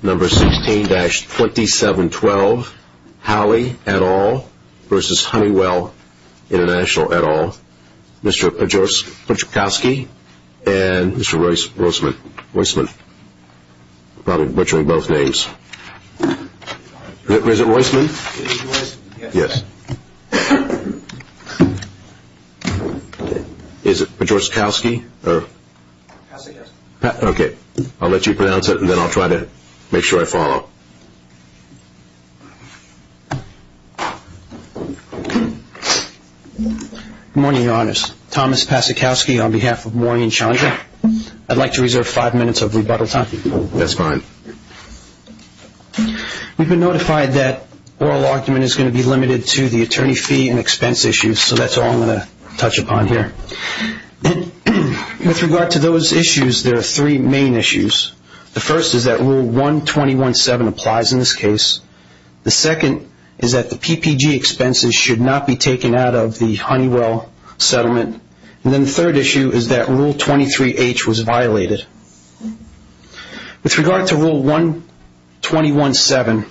Number 16-2712, Howley et al. versus Honeywell International et al. Mr. Podjorskowski and Mr. Roisman. I'm probably butchering both names. Is it Roisman? Yes. Is it Podjorskowski? Podjorskowski. Okay. I'll let you pronounce it and then I'll try to make sure I follow. Good morning, Your Honors. Thomas Podjorskowski on behalf of Morning and Challenger. I'd like to reserve five minutes of rebuttal time. That's fine. We've been notified that oral argument is going to be limited to the attorney fee and expense issues, so that's all I'm going to touch upon here. With regard to those issues, there are three main issues. The first is that Rule 121-7 applies in this case. The second is that the PPG expenses should not be taken out of the Honeywell settlement. And then the third issue is that Rule 23-H was violated. With regard to Rule 121-7,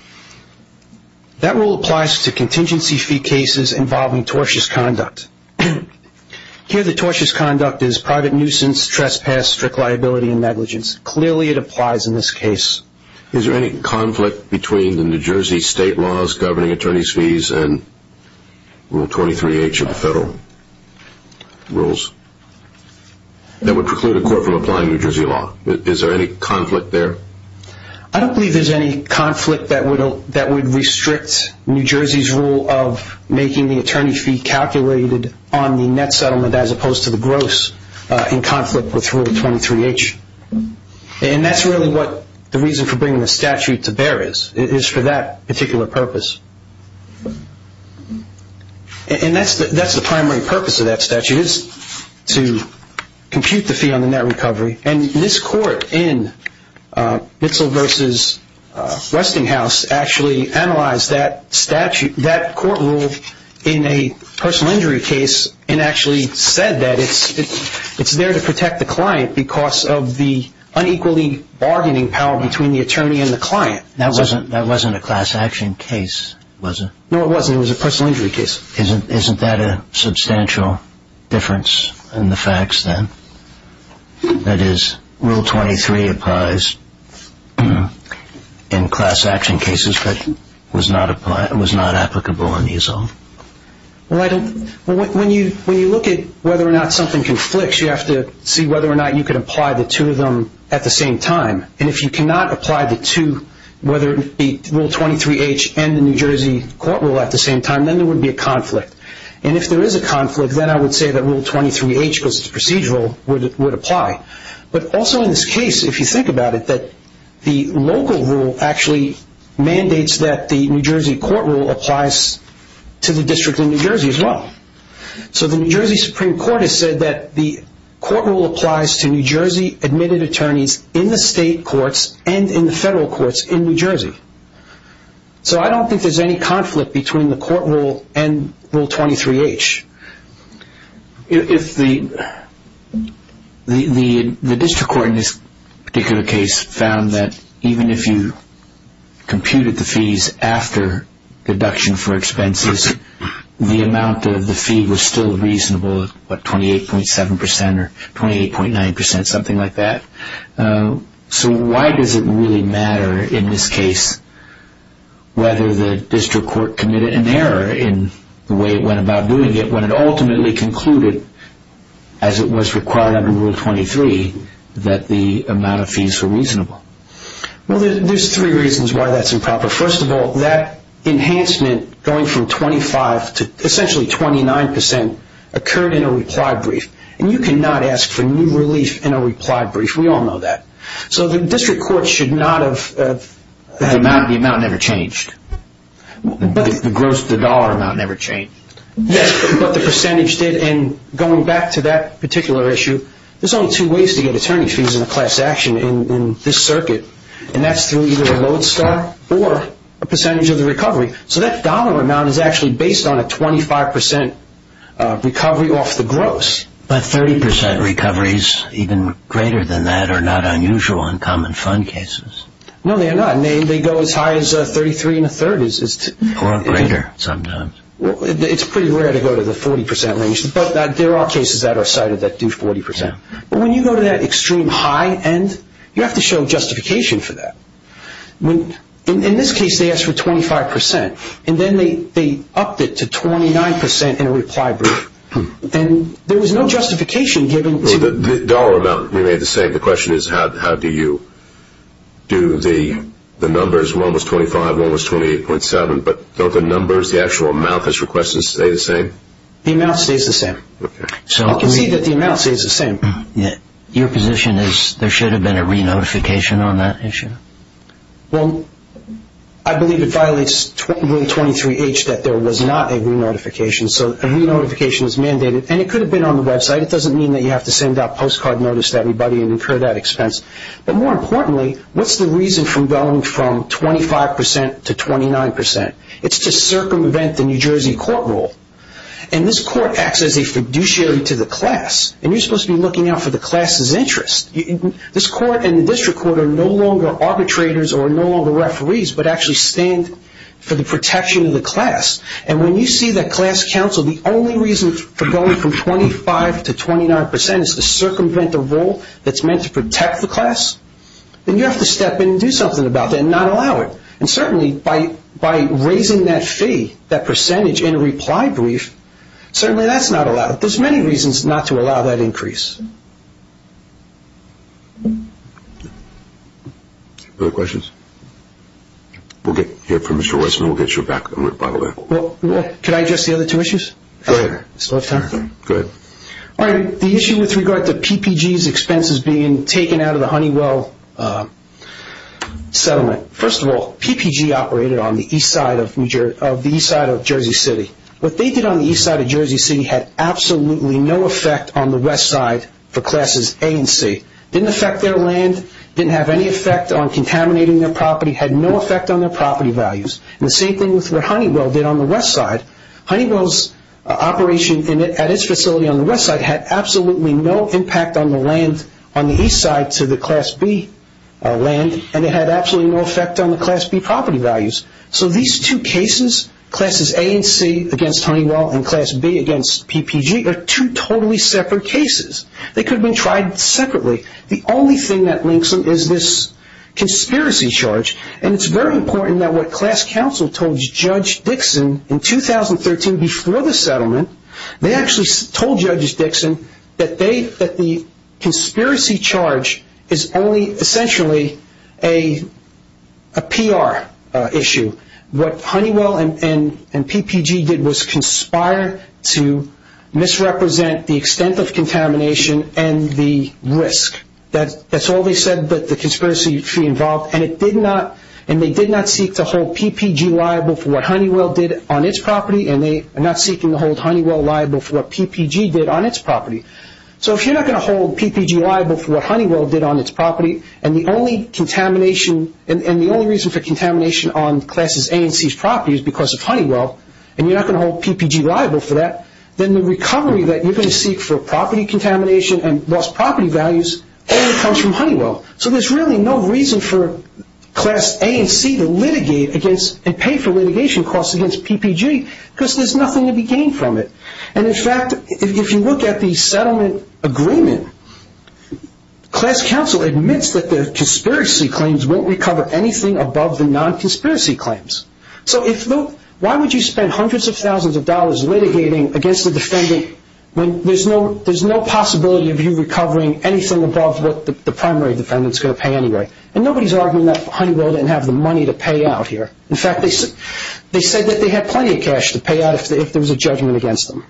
that rule applies to contingency fee cases involving tortious conduct. Here the tortious conduct is private nuisance, trespass, strict liability, and negligence. Clearly it applies in this case. Is there any conflict between the New Jersey state laws governing attorney's fees and Rule 23-H of the federal rules that would preclude a court from applying New Jersey law? Is there any conflict there? I don't believe there's any conflict that would restrict New Jersey's rule of making the attorney fee calculated on the net settlement as opposed to the gross in conflict with Rule 23-H. And that's really what the reason for bringing the statute to bear is, is for that particular purpose. And that's the primary purpose of that statute, is to compute the fee on the net recovery. And this court in Bitzel v. Westinghouse actually analyzed that statute, that court rule, in a personal injury case and actually said that it's there to protect the client because of the unequally bargaining power between the attorney and the client. That wasn't a class action case, was it? No, it wasn't. It was a personal injury case. Isn't that a substantial difference in the facts then? That is, Rule 23 applies in class action cases but was not applicable in the assault? When you look at whether or not something conflicts, you have to see whether or not you can apply the two of them at the same time. And if you cannot apply the two, whether it be Rule 23-H and the New Jersey court rule at the same time, then there would be a conflict. And if there is a conflict, then I would say that Rule 23-H, because it's procedural, would apply. But also in this case, if you think about it, the local rule actually mandates that the New Jersey court rule applies to the district in New Jersey as well. So the New Jersey Supreme Court has said that the court rule applies to New Jersey admitted attorneys in the state courts and in the federal courts in New Jersey. So I don't think there's any conflict between the court rule and Rule 23-H. The district court in this particular case found that even if you computed the fees after deduction for expenses, the amount of the fee was still reasonable at 28.7% or 28.9%, something like that. So why does it really matter in this case whether the district court committed an error in the way it went about doing it when it ultimately concluded, as it was required under Rule 23, that the amount of fees were reasonable? Well, there's three reasons why that's improper. First of all, that enhancement going from 25% to essentially 29% occurred in a reply brief. And you cannot ask for new relief in a reply brief. We all know that. So the district court should not have... The amount never changed. The gross to dollar amount never changed. Yes, but the percentage did. And going back to that particular issue, there's only two ways to get attorney fees in a class action in this circuit, and that's through either a load star or a percentage of the recovery. So that dollar amount is actually based on a 25% recovery off the gross. But 30% recoveries even greater than that are not unusual in common fund cases. No, they're not. They go as high as 33 and a third. Or greater sometimes. It's pretty rare to go to the 40% range, but there are cases that are cited that do 40%. But when you go to that extreme high end, you have to show justification for that. In this case, they asked for 25%, and then they upped it to 29% in a reply brief. And there was no justification given to... The dollar amount remained the same. The question is how do you do the numbers? One was 25, one was 28.7, but don't the numbers, the actual amount that's requested, stay the same? The amount stays the same. Okay. You can see that the amount stays the same. Your position is there should have been a re-notification on that issue? Well, I believe it violates Rule 23H that there was not a re-notification. So a re-notification is mandated, and it could have been on the website. It doesn't mean that you have to send out postcard notice to everybody and incur that expense. But more importantly, what's the reason for going from 25% to 29%? It's to circumvent the New Jersey court rule. And this court acts as a fiduciary to the class. And you're supposed to be looking out for the class's interest. This court and the district court are no longer arbitrators or no longer referees, but actually stand for the protection of the class. And when you see that class counsel, the only reason for going from 25% to 29% is to circumvent a rule that's meant to protect the class, then you have to step in and do something about that and not allow it. And certainly by raising that fee, that percentage, in a reply brief, certainly that's not allowed. There's many reasons not to allow that increase. Other questions? We'll get here from Mr. Weisman. We'll get you back. Can I address the other two issues? Go ahead. The issue with regard to PPG's expenses being taken out of the Honeywell settlement. First of all, PPG operated on the east side of Jersey City. What they did on the east side of Jersey City had absolutely no effect on the west side for classes A and C. It didn't affect their land. It didn't have any effect on contaminating their property. It had no effect on their property values. And the same thing with what Honeywell did on the west side. Honeywell's operation at its facility on the west side had absolutely no impact on the land on the east side to the class B land, and it had absolutely no effect on the class B property values. So these two cases, classes A and C against Honeywell and class B against PPG, are two totally separate cases. They could have been tried separately. The only thing that links them is this conspiracy charge, and it's very important that what class counsel told Judge Dixon in 2013 before the settlement, they actually told Judge Dixon that the conspiracy charge is only essentially a PR issue. What Honeywell and PPG did was conspire to misrepresent the extent of contamination and the risk. That's all they said that the conspiracy involved, and they did not seek to hold PPG liable for what Honeywell did on its property, and they are not seeking to hold Honeywell liable for what PPG did on its property. So if you're not going to hold PPG liable for what Honeywell did on its property, and the only reason for contamination on classes A and C's property is because of Honeywell, and you're not going to hold PPG liable for that, then the recovery that you're going to seek for property contamination and lost property values only comes from Honeywell. So there's really no reason for class A and C to pay for litigation costs against PPG, because there's nothing to be gained from it. And in fact, if you look at the settlement agreement, class counsel admits that the conspiracy claims won't recover anything above the non-conspiracy claims. So why would you spend hundreds of thousands of dollars litigating against a defendant when there's no possibility of you recovering anything above what the primary defendant's going to pay anyway? And nobody's arguing that Honeywell didn't have the money to pay out here. In fact, they said that they had plenty of cash to pay out if there was a judgment against them.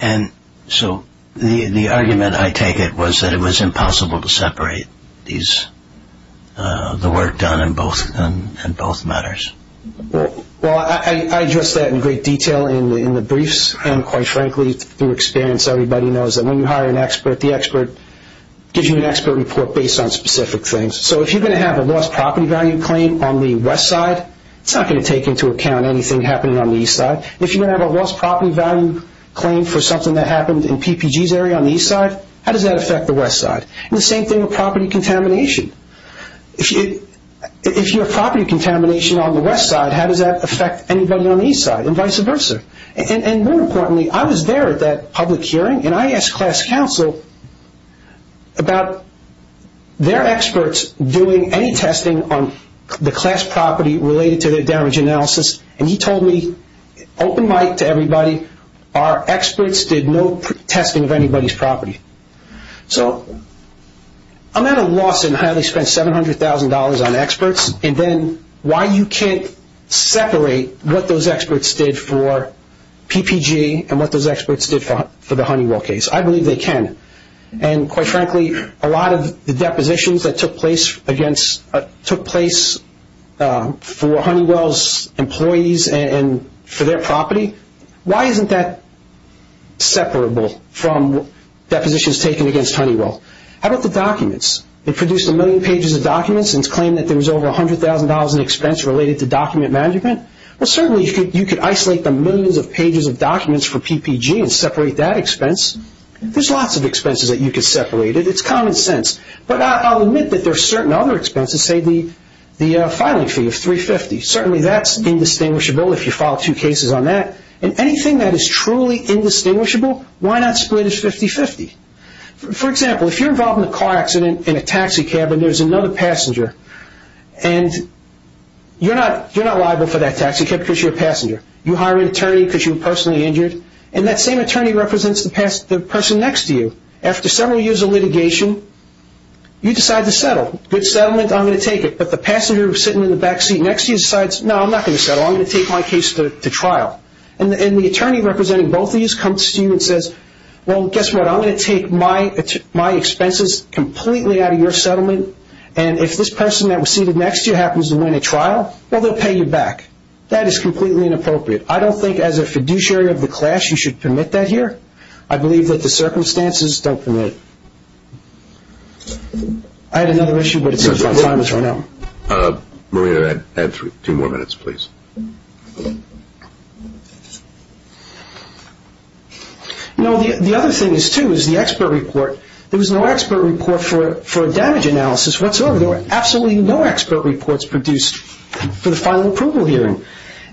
And so the argument I take it was that it was impossible to separate the work done in both matters. Well, I address that in great detail in the briefs and, quite frankly, through experience. Everybody knows that when you hire an expert, the expert gives you an expert report based on specific things. So if you're going to have a lost property value claim on the west side, it's not going to take into account anything happening on the east side. If you're going to have a lost property value claim for something that happened in PPG's area on the east side, how does that affect the west side? And the same thing with property contamination. If you have property contamination on the west side, how does that affect anybody on the east side? And vice versa. And more importantly, I was there at that public hearing, and I asked class counsel about their experts doing any testing on the class property related to their damage analysis. And he told me, open mic to everybody, our experts did no testing of anybody's property. So I'm at a loss in how they spend $700,000 on experts, and then why you can't separate what those experts did for PPG and what those experts did for the Honeywell case. I believe they can. And, quite frankly, a lot of the depositions that took place for Honeywell's employees and for their property, why isn't that separable from depositions taken against Honeywell? How about the documents? They produced a million pages of documents and claimed that there was over $100,000 in expense related to document management. Well, certainly you could isolate the millions of pages of documents for PPG and separate that expense. There's lots of expenses that you could separate. It's common sense. But I'll admit that there are certain other expenses, say the filing fee of $350,000. Certainly that's indistinguishable if you file two cases on that. And anything that is truly indistinguishable, why not split it 50-50? For example, if you're involved in a car accident in a taxi cab and there's another passenger, and you're not liable for that taxi cab because you're a passenger. You hire an attorney because you were personally injured, and that same attorney represents the person next to you. After several years of litigation, you decide to settle. Good settlement, I'm going to take it. But the passenger sitting in the back seat next to you decides, no, I'm not going to settle. I'm going to take my case to trial. And the attorney representing both of these comes to you and says, well, guess what? I'm going to take my expenses completely out of your settlement, and if this person that was seated next to you happens to win a trial, well, they'll pay you back. That is completely inappropriate. I don't think as a fiduciary of the class you should permit that here. I believe that the circumstances don't permit it. I had another issue, but it seems our time has run out. Marina, add two more minutes, please. No, the other thing is, too, is the expert report. There was no expert report for a damage analysis whatsoever. There were absolutely no expert reports produced for the final approval hearing.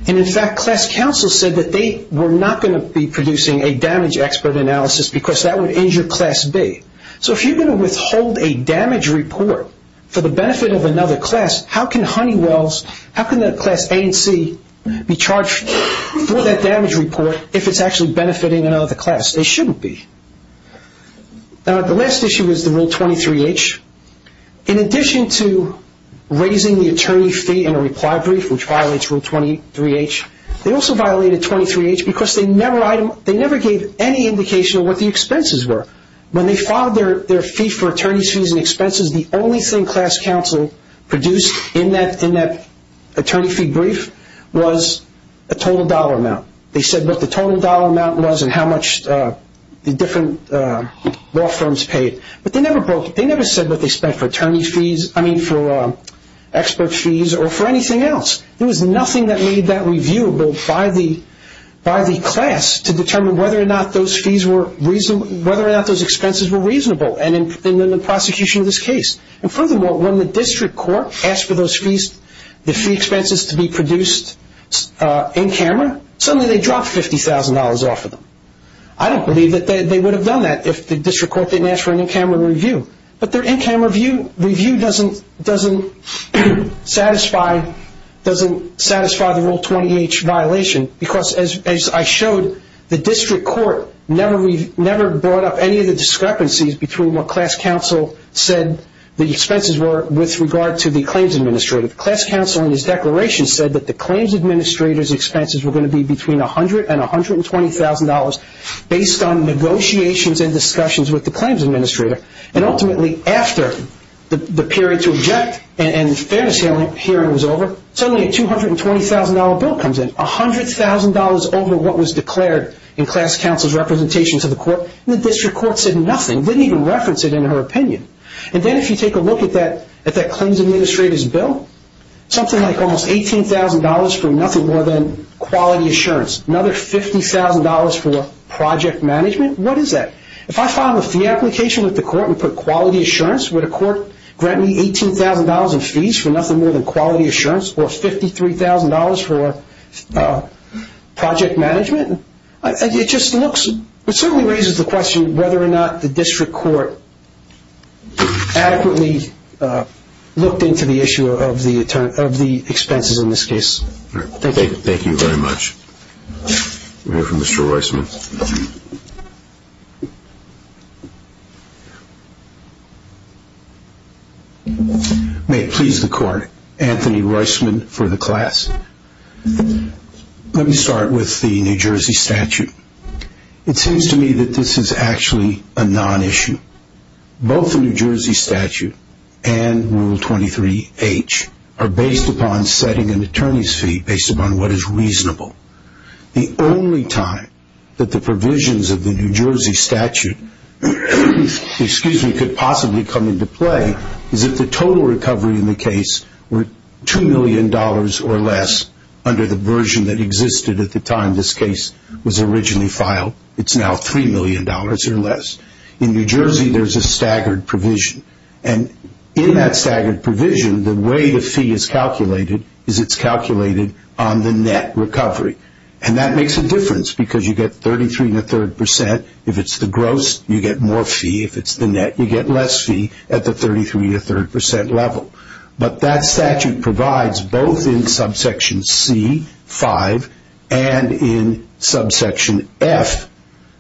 And, in fact, class counsel said that they were not going to be producing a damage expert analysis because that would injure class B. So if you're going to withhold a damage report for the benefit of another class, how can Honeywell's, how can the class A and C be charged for that damage report if it's actually benefiting another class? They shouldn't be. Now, the last issue is the Rule 23H. In addition to raising the attorney fee in a reply brief, which violates Rule 23H, they also violated 23H because they never gave any indication of what the expenses were. When they filed their fee for attorneys' fees and expenses, the only thing class counsel produced in that attorney fee brief was a total dollar amount. They said what the total dollar amount was and how much the different law firms paid. But they never broke it. They never said what they spent for attorney fees, I mean for expert fees or for anything else. There was nothing that made that reviewable by the class to determine whether or not those fees were reasonable, whether or not those expenses were reasonable in the prosecution of this case. And, furthermore, when the district court asked for those fees, the fee expenses to be produced in camera, suddenly they dropped $50,000 off of them. I don't believe that they would have done that if the district court didn't ask for an in-camera review. But their in-camera review doesn't satisfy the Rule 20H violation because, as I showed, the district court never brought up any of the discrepancies between what class counsel said the expenses were with regard to the claims administrator. Class counsel in his declaration said that the claims administrator's expenses were going to be between $100,000 and $120,000 based on negotiations and discussions with the claims administrator. And, ultimately, after the period to object and the fairness hearing was over, suddenly a $220,000 bill comes in, $100,000 over what was declared in class counsel's representation to the court, and the district court said nothing, didn't even reference it in her opinion. And then if you take a look at that claims administrator's bill, something like almost $18,000 for nothing more than quality assurance, another $50,000 for project management, what is that? If I file a fee application with the court and put quality assurance, would a court grant me $18,000 in fees for nothing more than quality assurance or $53,000 for project management? It just certainly raises the question whether or not the district court adequately looked into the issue of the expenses in this case. Thank you very much. We'll hear from Mr. Roisman. May it please the court, Anthony Roisman for the class. Let me start with the New Jersey statute. It seems to me that this is actually a non-issue. Both the New Jersey statute and Rule 23H are based upon setting an attorney's fee, based upon what is reasonable. The only time that the provisions of the New Jersey statute could possibly come into play is if the total recovery in the case were $2 million or less under the version that existed at the time this case was originally filed. It's now $3 million or less. In New Jersey, there's a staggered provision. And in that staggered provision, the way the fee is calculated is it's calculated on the net recovery. And that makes a difference because you get 33 and a third percent. If it's the gross, you get more fee. If it's the net, you get less fee at the 33 and a third percent level. But that statute provides both in subsection C5 and in subsection F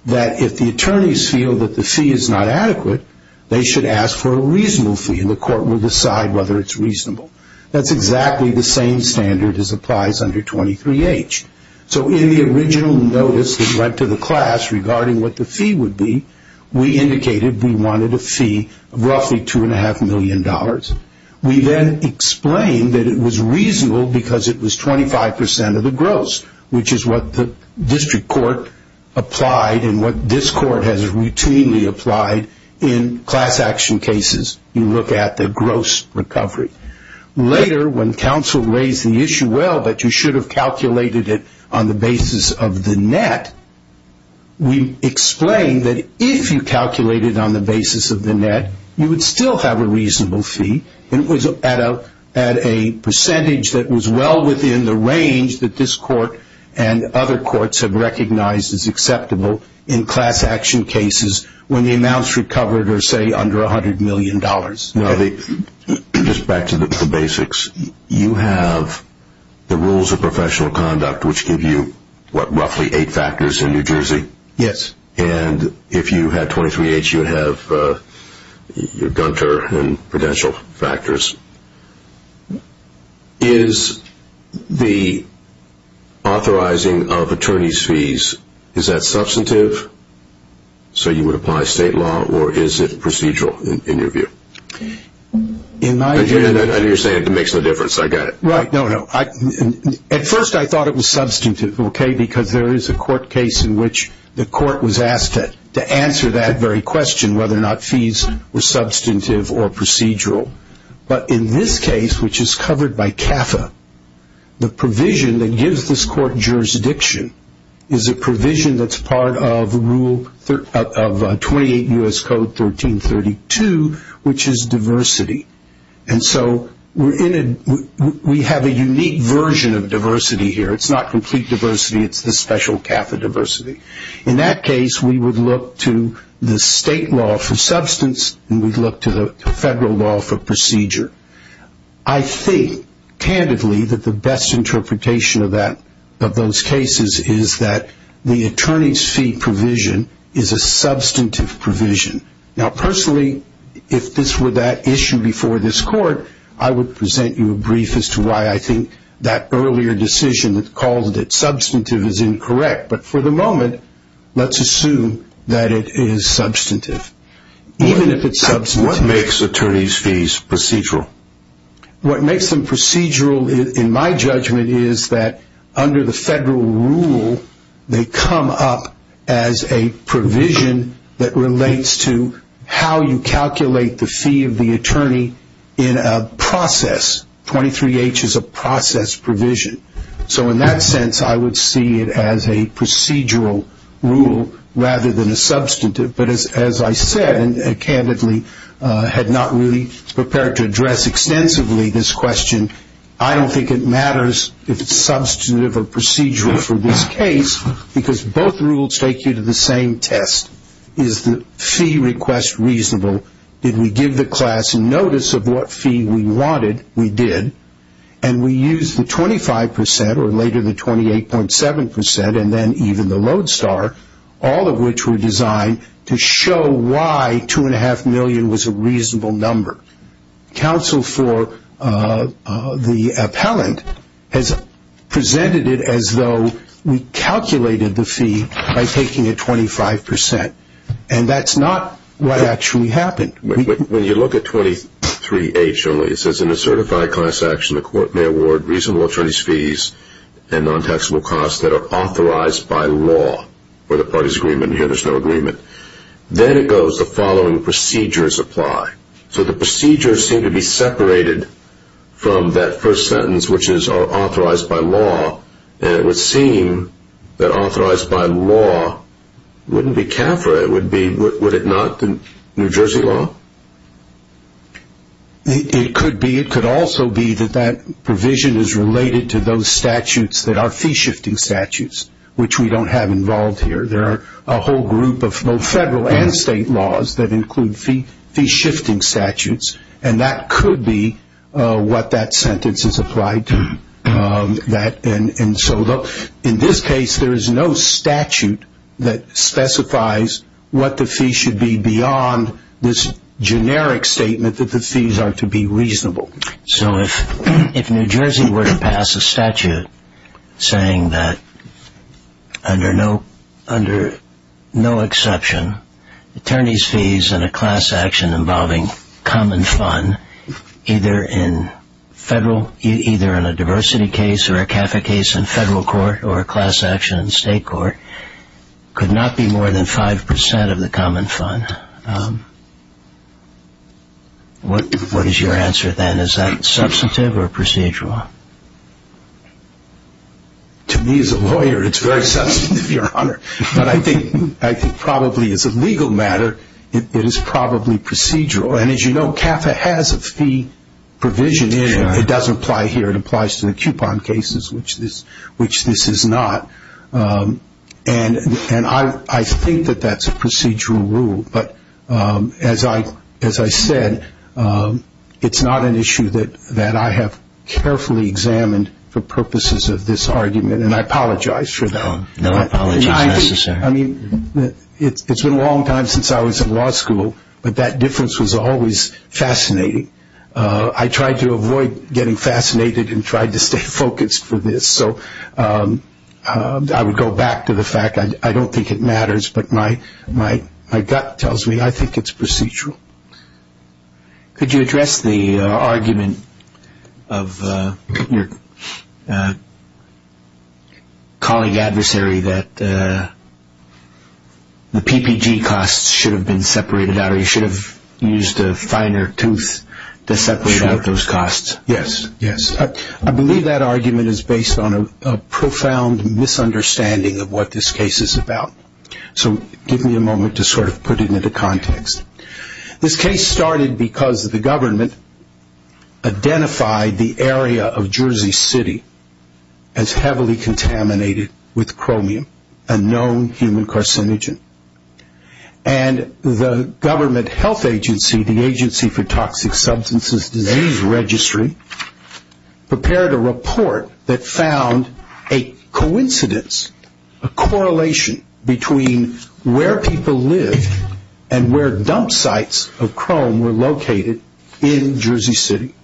that if the attorneys feel that the fee is not adequate, they should ask for a reasonable fee, and the court will decide whether it's reasonable. That's exactly the same standard as applies under 23H. So in the original notice that went to the class regarding what the fee would be, we indicated we wanted a fee of roughly $2.5 million. We then explained that it was reasonable because it was 25% of the gross, which is what the district court applied and what this court has routinely applied in class action cases. You look at the gross recovery. Later, when counsel raised the issue, well, but you should have calculated it on the basis of the net, we explained that if you calculated on the basis of the net, you would still have a reasonable fee. It was at a percentage that was well within the range that this court and other courts have recognized as acceptable in class action cases when the amounts recovered are, say, under $100 million. Just back to the basics, you have the rules of professional conduct, which give you, what, roughly eight factors in New Jersey? Yes. And if you had 23H, you would have your Gunter and prudential factors. Is the authorizing of attorney's fees, is that substantive? So you would apply state law, or is it procedural in your view? I know you're saying it makes no difference. I get it. No, no. At first I thought it was substantive, okay, because there is a court case in which the court was asked to answer that very question, whether or not fees were substantive or procedural. But in this case, which is covered by CAFA, the provision that gives this court jurisdiction is a provision that's part of 28 U.S. Code 1332, which is diversity. And so we have a unique version of diversity here. It's not complete diversity, it's the special CAFA diversity. In that case, we would look to the state law for substance and we'd look to the federal law for procedure. I think, candidly, that the best interpretation of those cases is that the attorney's fee provision is a substantive provision. Now, personally, if this were that issue before this court, I would present you a brief as to why I think that earlier decision that called it substantive is incorrect. But for the moment, let's assume that it is substantive. Even if it's substantive. What makes attorney's fees procedural? What makes them procedural, in my judgment, is that under the federal rule, they come up as a provision that relates to how you calculate the fee of the attorney in a process. 23H is a process provision. So in that sense, I would see it as a procedural rule rather than a substantive. But as I said, and candidly had not really prepared to address extensively this question, I don't think it matters if it's substantive or procedural for this case because both rules take you to the same test. Is the fee request reasonable? Did we give the class notice of what fee we wanted? We did. And we used the 25%, or later the 28.7%, and then even the Lodestar, all of which were designed to show why $2.5 million was a reasonable number. Counsel for the appellant has presented it as though we calculated the fee by taking a 25%. And that's not what actually happened. When you look at 23H only, it says in a certified class action, the court may award reasonable attorney's fees and non-taxable costs that are authorized by law. For the parties' agreement, here there's no agreement. Then it goes, the following procedures apply. So the procedures seem to be separated from that first sentence, which is authorized by law. And it would seem that authorized by law wouldn't be CAFRA. Would it not, the New Jersey law? It could be. It could also be that that provision is related to those statutes that are fee-shifting statutes, which we don't have involved here. There are a whole group of both federal and state laws that include fee-shifting statutes, and that could be what that sentence is applied to. And so in this case, there is no statute that specifies what the fee should be beyond this generic statement that the fees are to be reasonable. So if New Jersey were to pass a statute saying that under no exception, attorney's fees in a class action involving common fund, either in a diversity case or a CAFRA case in federal court or a class action in state court, could not be more than 5% of the common fund, what is your answer then? Is that substantive or procedural? To me as a lawyer, it's very substantive, Your Honor. But I think probably as a legal matter, it is probably procedural. And as you know, CAFRA has a fee provision in it. It doesn't apply here. It applies to the coupon cases, which this is not. And I think that that's a procedural rule. But as I said, it's not an issue that I have carefully examined for purposes of this argument, and I apologize for that. No apologies necessary. I mean, it's been a long time since I was in law school, but that difference was always fascinating. I tried to avoid getting fascinated and tried to stay focused for this. So I would go back to the fact, I don't think it matters, but my gut tells me I think it's procedural. Could you address the argument of your colleague adversary that the PPG costs should have been separated out or you should have used a finer tooth to separate out those costs? Yes, yes. I believe that argument is based on a profound misunderstanding of what this case is about. So give me a moment to sort of put it into context. This case started because the government identified the area of Jersey City as heavily contaminated with chromium, a known human carcinogen. And the government health agency, the Agency for Toxic Substances Disease Registry, prepared a report that found a coincidence, a correlation between where people live and where dump sites of chrome were located in Jersey City.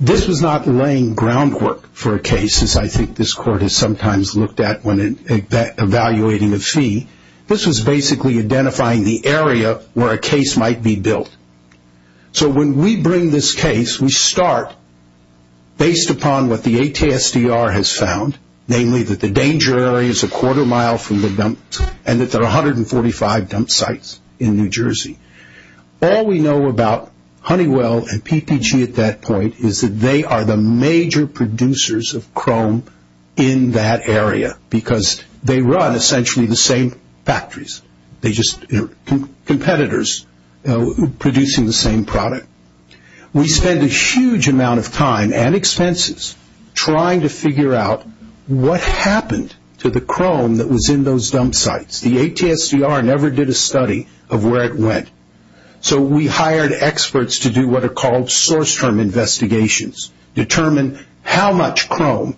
This was not laying groundwork for a case, as I think this court has sometimes looked at when evaluating a fee. This was basically identifying the area where a case might be built. So when we bring this case, we start based upon what the ATSDR has found, namely that the danger area is a quarter mile from the dump and that there are 145 dump sites in New Jersey. All we know about Honeywell and PPG at that point is that they are the major producers of chrome in that area because they run essentially the same factories. They're just competitors producing the same product. We spend a huge amount of time and expenses trying to figure out what happened to the chrome that was in those dump sites. The ATSDR never did a study of where it went. So we hired experts to do what are called source term investigations, determine how much chrome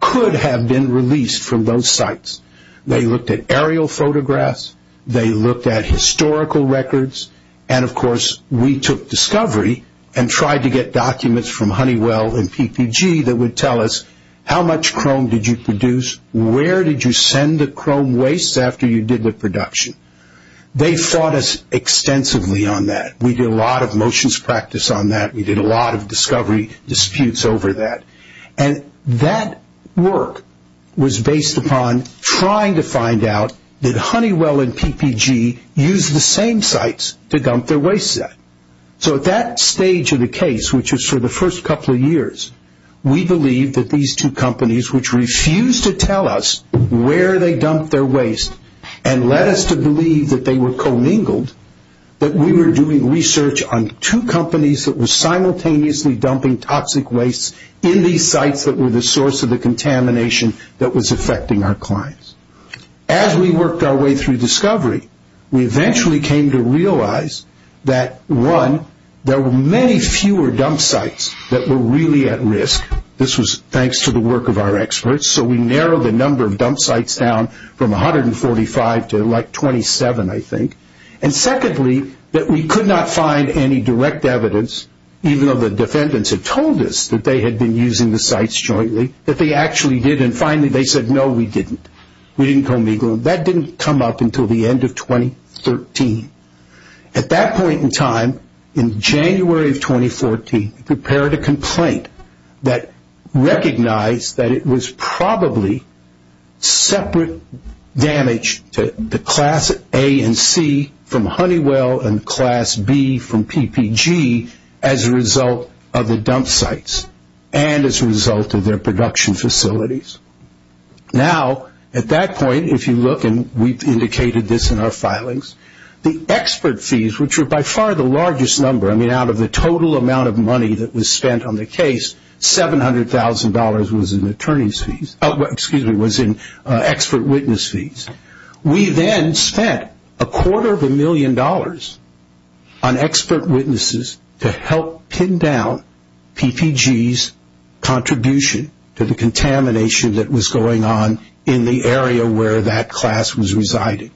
could have been released from those sites. They looked at aerial photographs, they looked at historical records, and of course we took discovery and tried to get documents from Honeywell and PPG that would tell us how much chrome did you produce, where did you send the chrome wastes after you did the production. They fought us extensively on that. We did a lot of motions practice on that. We did a lot of discovery disputes over that. And that work was based upon trying to find out did Honeywell and PPG use the same sites to dump their wastes at. So at that stage of the case, which was for the first couple of years, we believed that these two companies, which refused to tell us where they dumped their wastes and led us to believe that they were commingled, that we were doing research on two companies that were simultaneously dumping toxic wastes in these sites that were the source of the contamination that was affecting our clients. As we worked our way through discovery, we eventually came to realize that, one, there were many fewer dump sites that were really at risk. This was thanks to the work of our experts. So we narrowed the number of dump sites down from 145 to 27, I think. And secondly, that we could not find any direct evidence, even though the defendants had told us that they had been using the sites jointly, that they actually did. And finally, they said, no, we didn't. We didn't commingle. That didn't come up until the end of 2013. At that point in time, in January of 2014, we prepared a complaint that recognized that it was probably separate damage to class A and C from Honeywell and class B from PPG as a result of the dump sites and as a result of their production facilities. Now, at that point, if you look, and we've indicated this in our filings, the expert fees, which were by far the largest number, I mean out of the total amount of money that was spent on the case, $700,000 was in expert witness fees. We then spent a quarter of a million dollars on expert witnesses to help pin down PPG's contribution to the contamination that was going on in the area where that class was residing.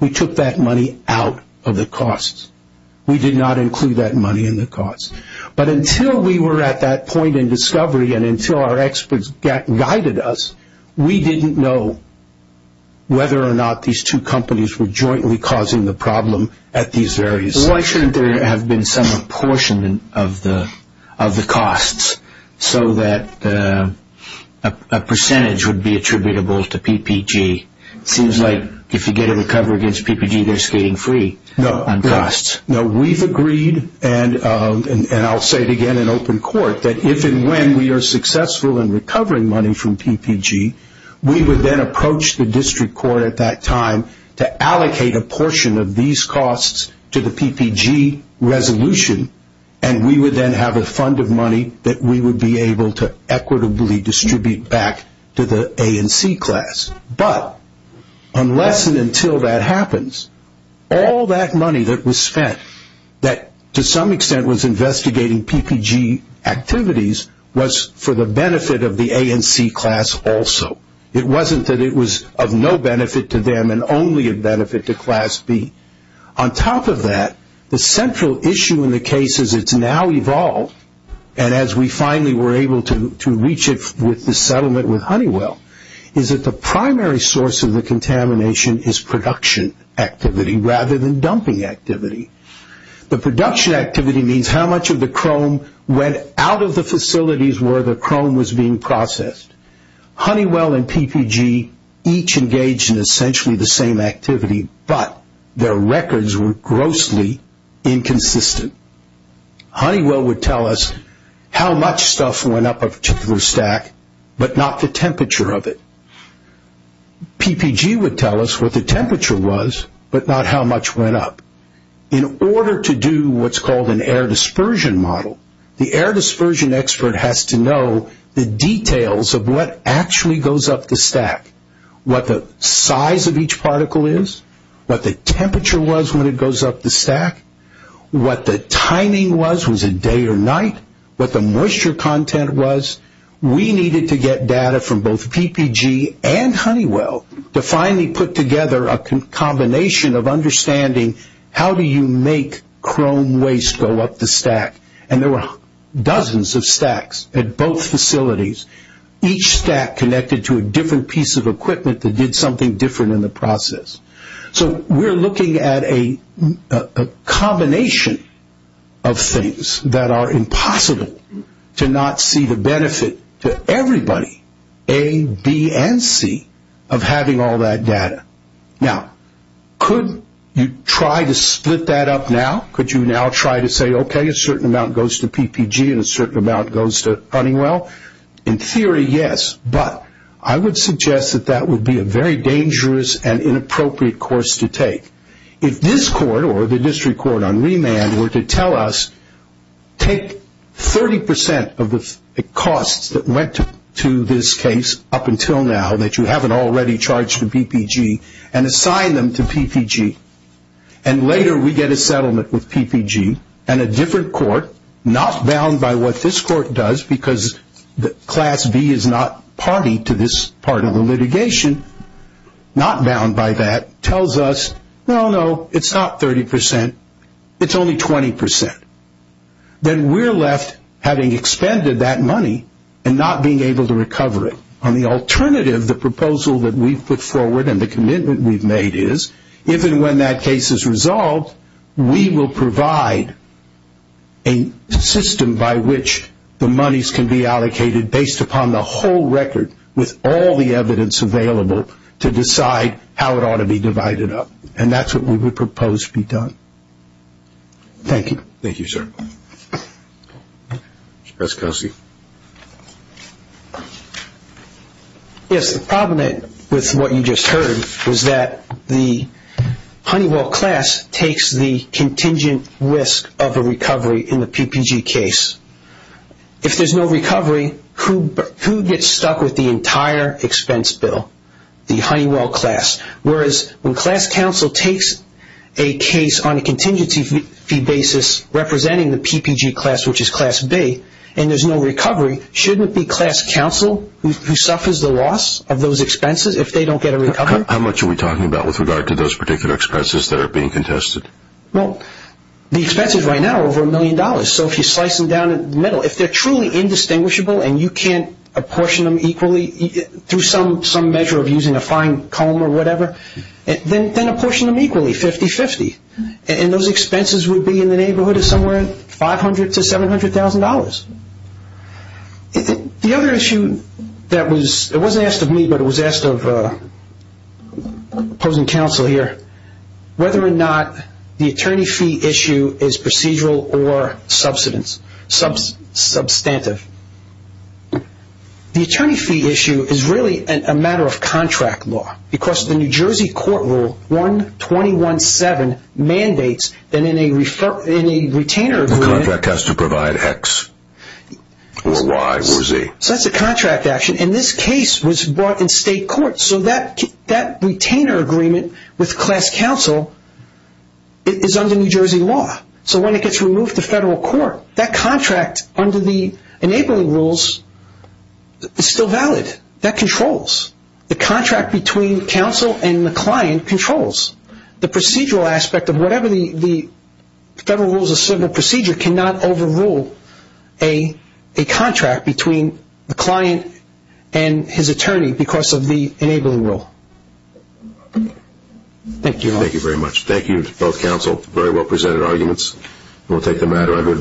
We took that money out of the costs. We did not include that money in the costs. But until we were at that point in discovery and until our experts guided us, we didn't know whether or not these two companies were jointly causing the problem at these various sites. Why shouldn't there have been some apportionment of the costs so that a percentage would be attributable to PPG? It seems like if you get a recovery against PPG, they're skating free on costs. No, we've agreed, and I'll say it again in open court, that if and when we are successful in recovering money from PPG, we would then approach the district court at that time to allocate a portion of these costs to the PPG resolution, and we would then have a fund of money that we would be able to equitably distribute back to the A and C class. But unless and until that happens, all that money that was spent that to some extent was investigating PPG activities was for the benefit of the A and C class also. It wasn't that it was of no benefit to them and only of benefit to Class B. On top of that, the central issue in the case as it's now evolved and as we finally were able to reach it with the settlement with Honeywell is that the primary source of the contamination is production activity rather than dumping activity. The production activity means how much of the chrome went out of the facilities where the chrome was being processed. Honeywell and PPG each engaged in essentially the same activity, but their records were grossly inconsistent. Honeywell would tell us how much stuff went up a particular stack, but not the temperature of it. PPG would tell us what the temperature was, but not how much went up. In order to do what's called an air dispersion model, the air dispersion expert has to know the details of what actually goes up the stack, what the size of each particle is, what the temperature was when it goes up the stack, what the timing was, was it day or night, what the moisture content was. We needed to get data from both PPG and Honeywell to finally put together a combination of understanding how do you make chrome waste go up the stack. There were dozens of stacks at both facilities. Each stack connected to a different piece of equipment that did something different in the process. We're looking at a combination of things that are impossible to not see the benefit to everybody, A, B, and C, of having all that data. Now, could you try to split that up now? Could you now try to say, okay, a certain amount goes to PPG and a certain amount goes to Honeywell? In theory, yes, but I would suggest that that would be a very dangerous and inappropriate course to take. If this court or the district court on remand were to tell us, take 30% of the costs that went to this case up until now that you haven't already charged to PPG and assign them to PPG and later we get a settlement with PPG and a different court, not bound by what this court does because Class B is not party to this part of the litigation, not bound by that, tells us, no, no, it's not 30%, it's only 20%. Then we're left having expended that money and not being able to recover it. On the alternative, the proposal that we've put forward and the commitment we've made is, if and when that case is resolved, we will provide a system by which the monies can be allocated based upon the whole record with all the evidence available to decide how it ought to be divided up, and that's what we would propose to be done. Thank you. Thank you, sir. Mr. Preskelcy. Yes, the problem with what you just heard was that the Honeywell class takes the contingent risk of a recovery in the PPG case. If there's no recovery, who gets stuck with the entire expense bill? The Honeywell class. Whereas when Class Counsel takes a case on a contingency fee basis representing the PPG class, which is Class B, and there's no recovery, shouldn't it be Class Counsel who suffers the loss of those expenses if they don't get a recovery? How much are we talking about with regard to those particular expenses that are being contested? Well, the expenses right now are over a million dollars. So if you slice them down in the middle, if they're truly indistinguishable and you can't apportion them equally through some measure of using a fine comb or whatever, then apportion them equally, 50-50. And those expenses would be in the neighborhood of somewhere $500,000 to $700,000. The other issue that was asked of me, but it was asked of opposing counsel here, whether or not the attorney fee issue is procedural or substantive. The attorney fee issue is really a matter of contract law because the New Jersey court rule 1217 mandates that in a retainer agreement... The contract has to provide X or Y or Z. So that's a contract action. And this case was brought in state court. So that retainer agreement with Class Counsel is under New Jersey law. So when it gets removed to federal court, that contract under the enabling rules is still valid. That controls. The contract between counsel and the client controls. The procedural aspect of whatever the Federal Rules of Civil Procedure cannot overrule a contract between the client and his attorney because of the enabling rule. Thank you all. Thank you very much. Thank you to both counsel. Very well presented arguments. We'll take them at it.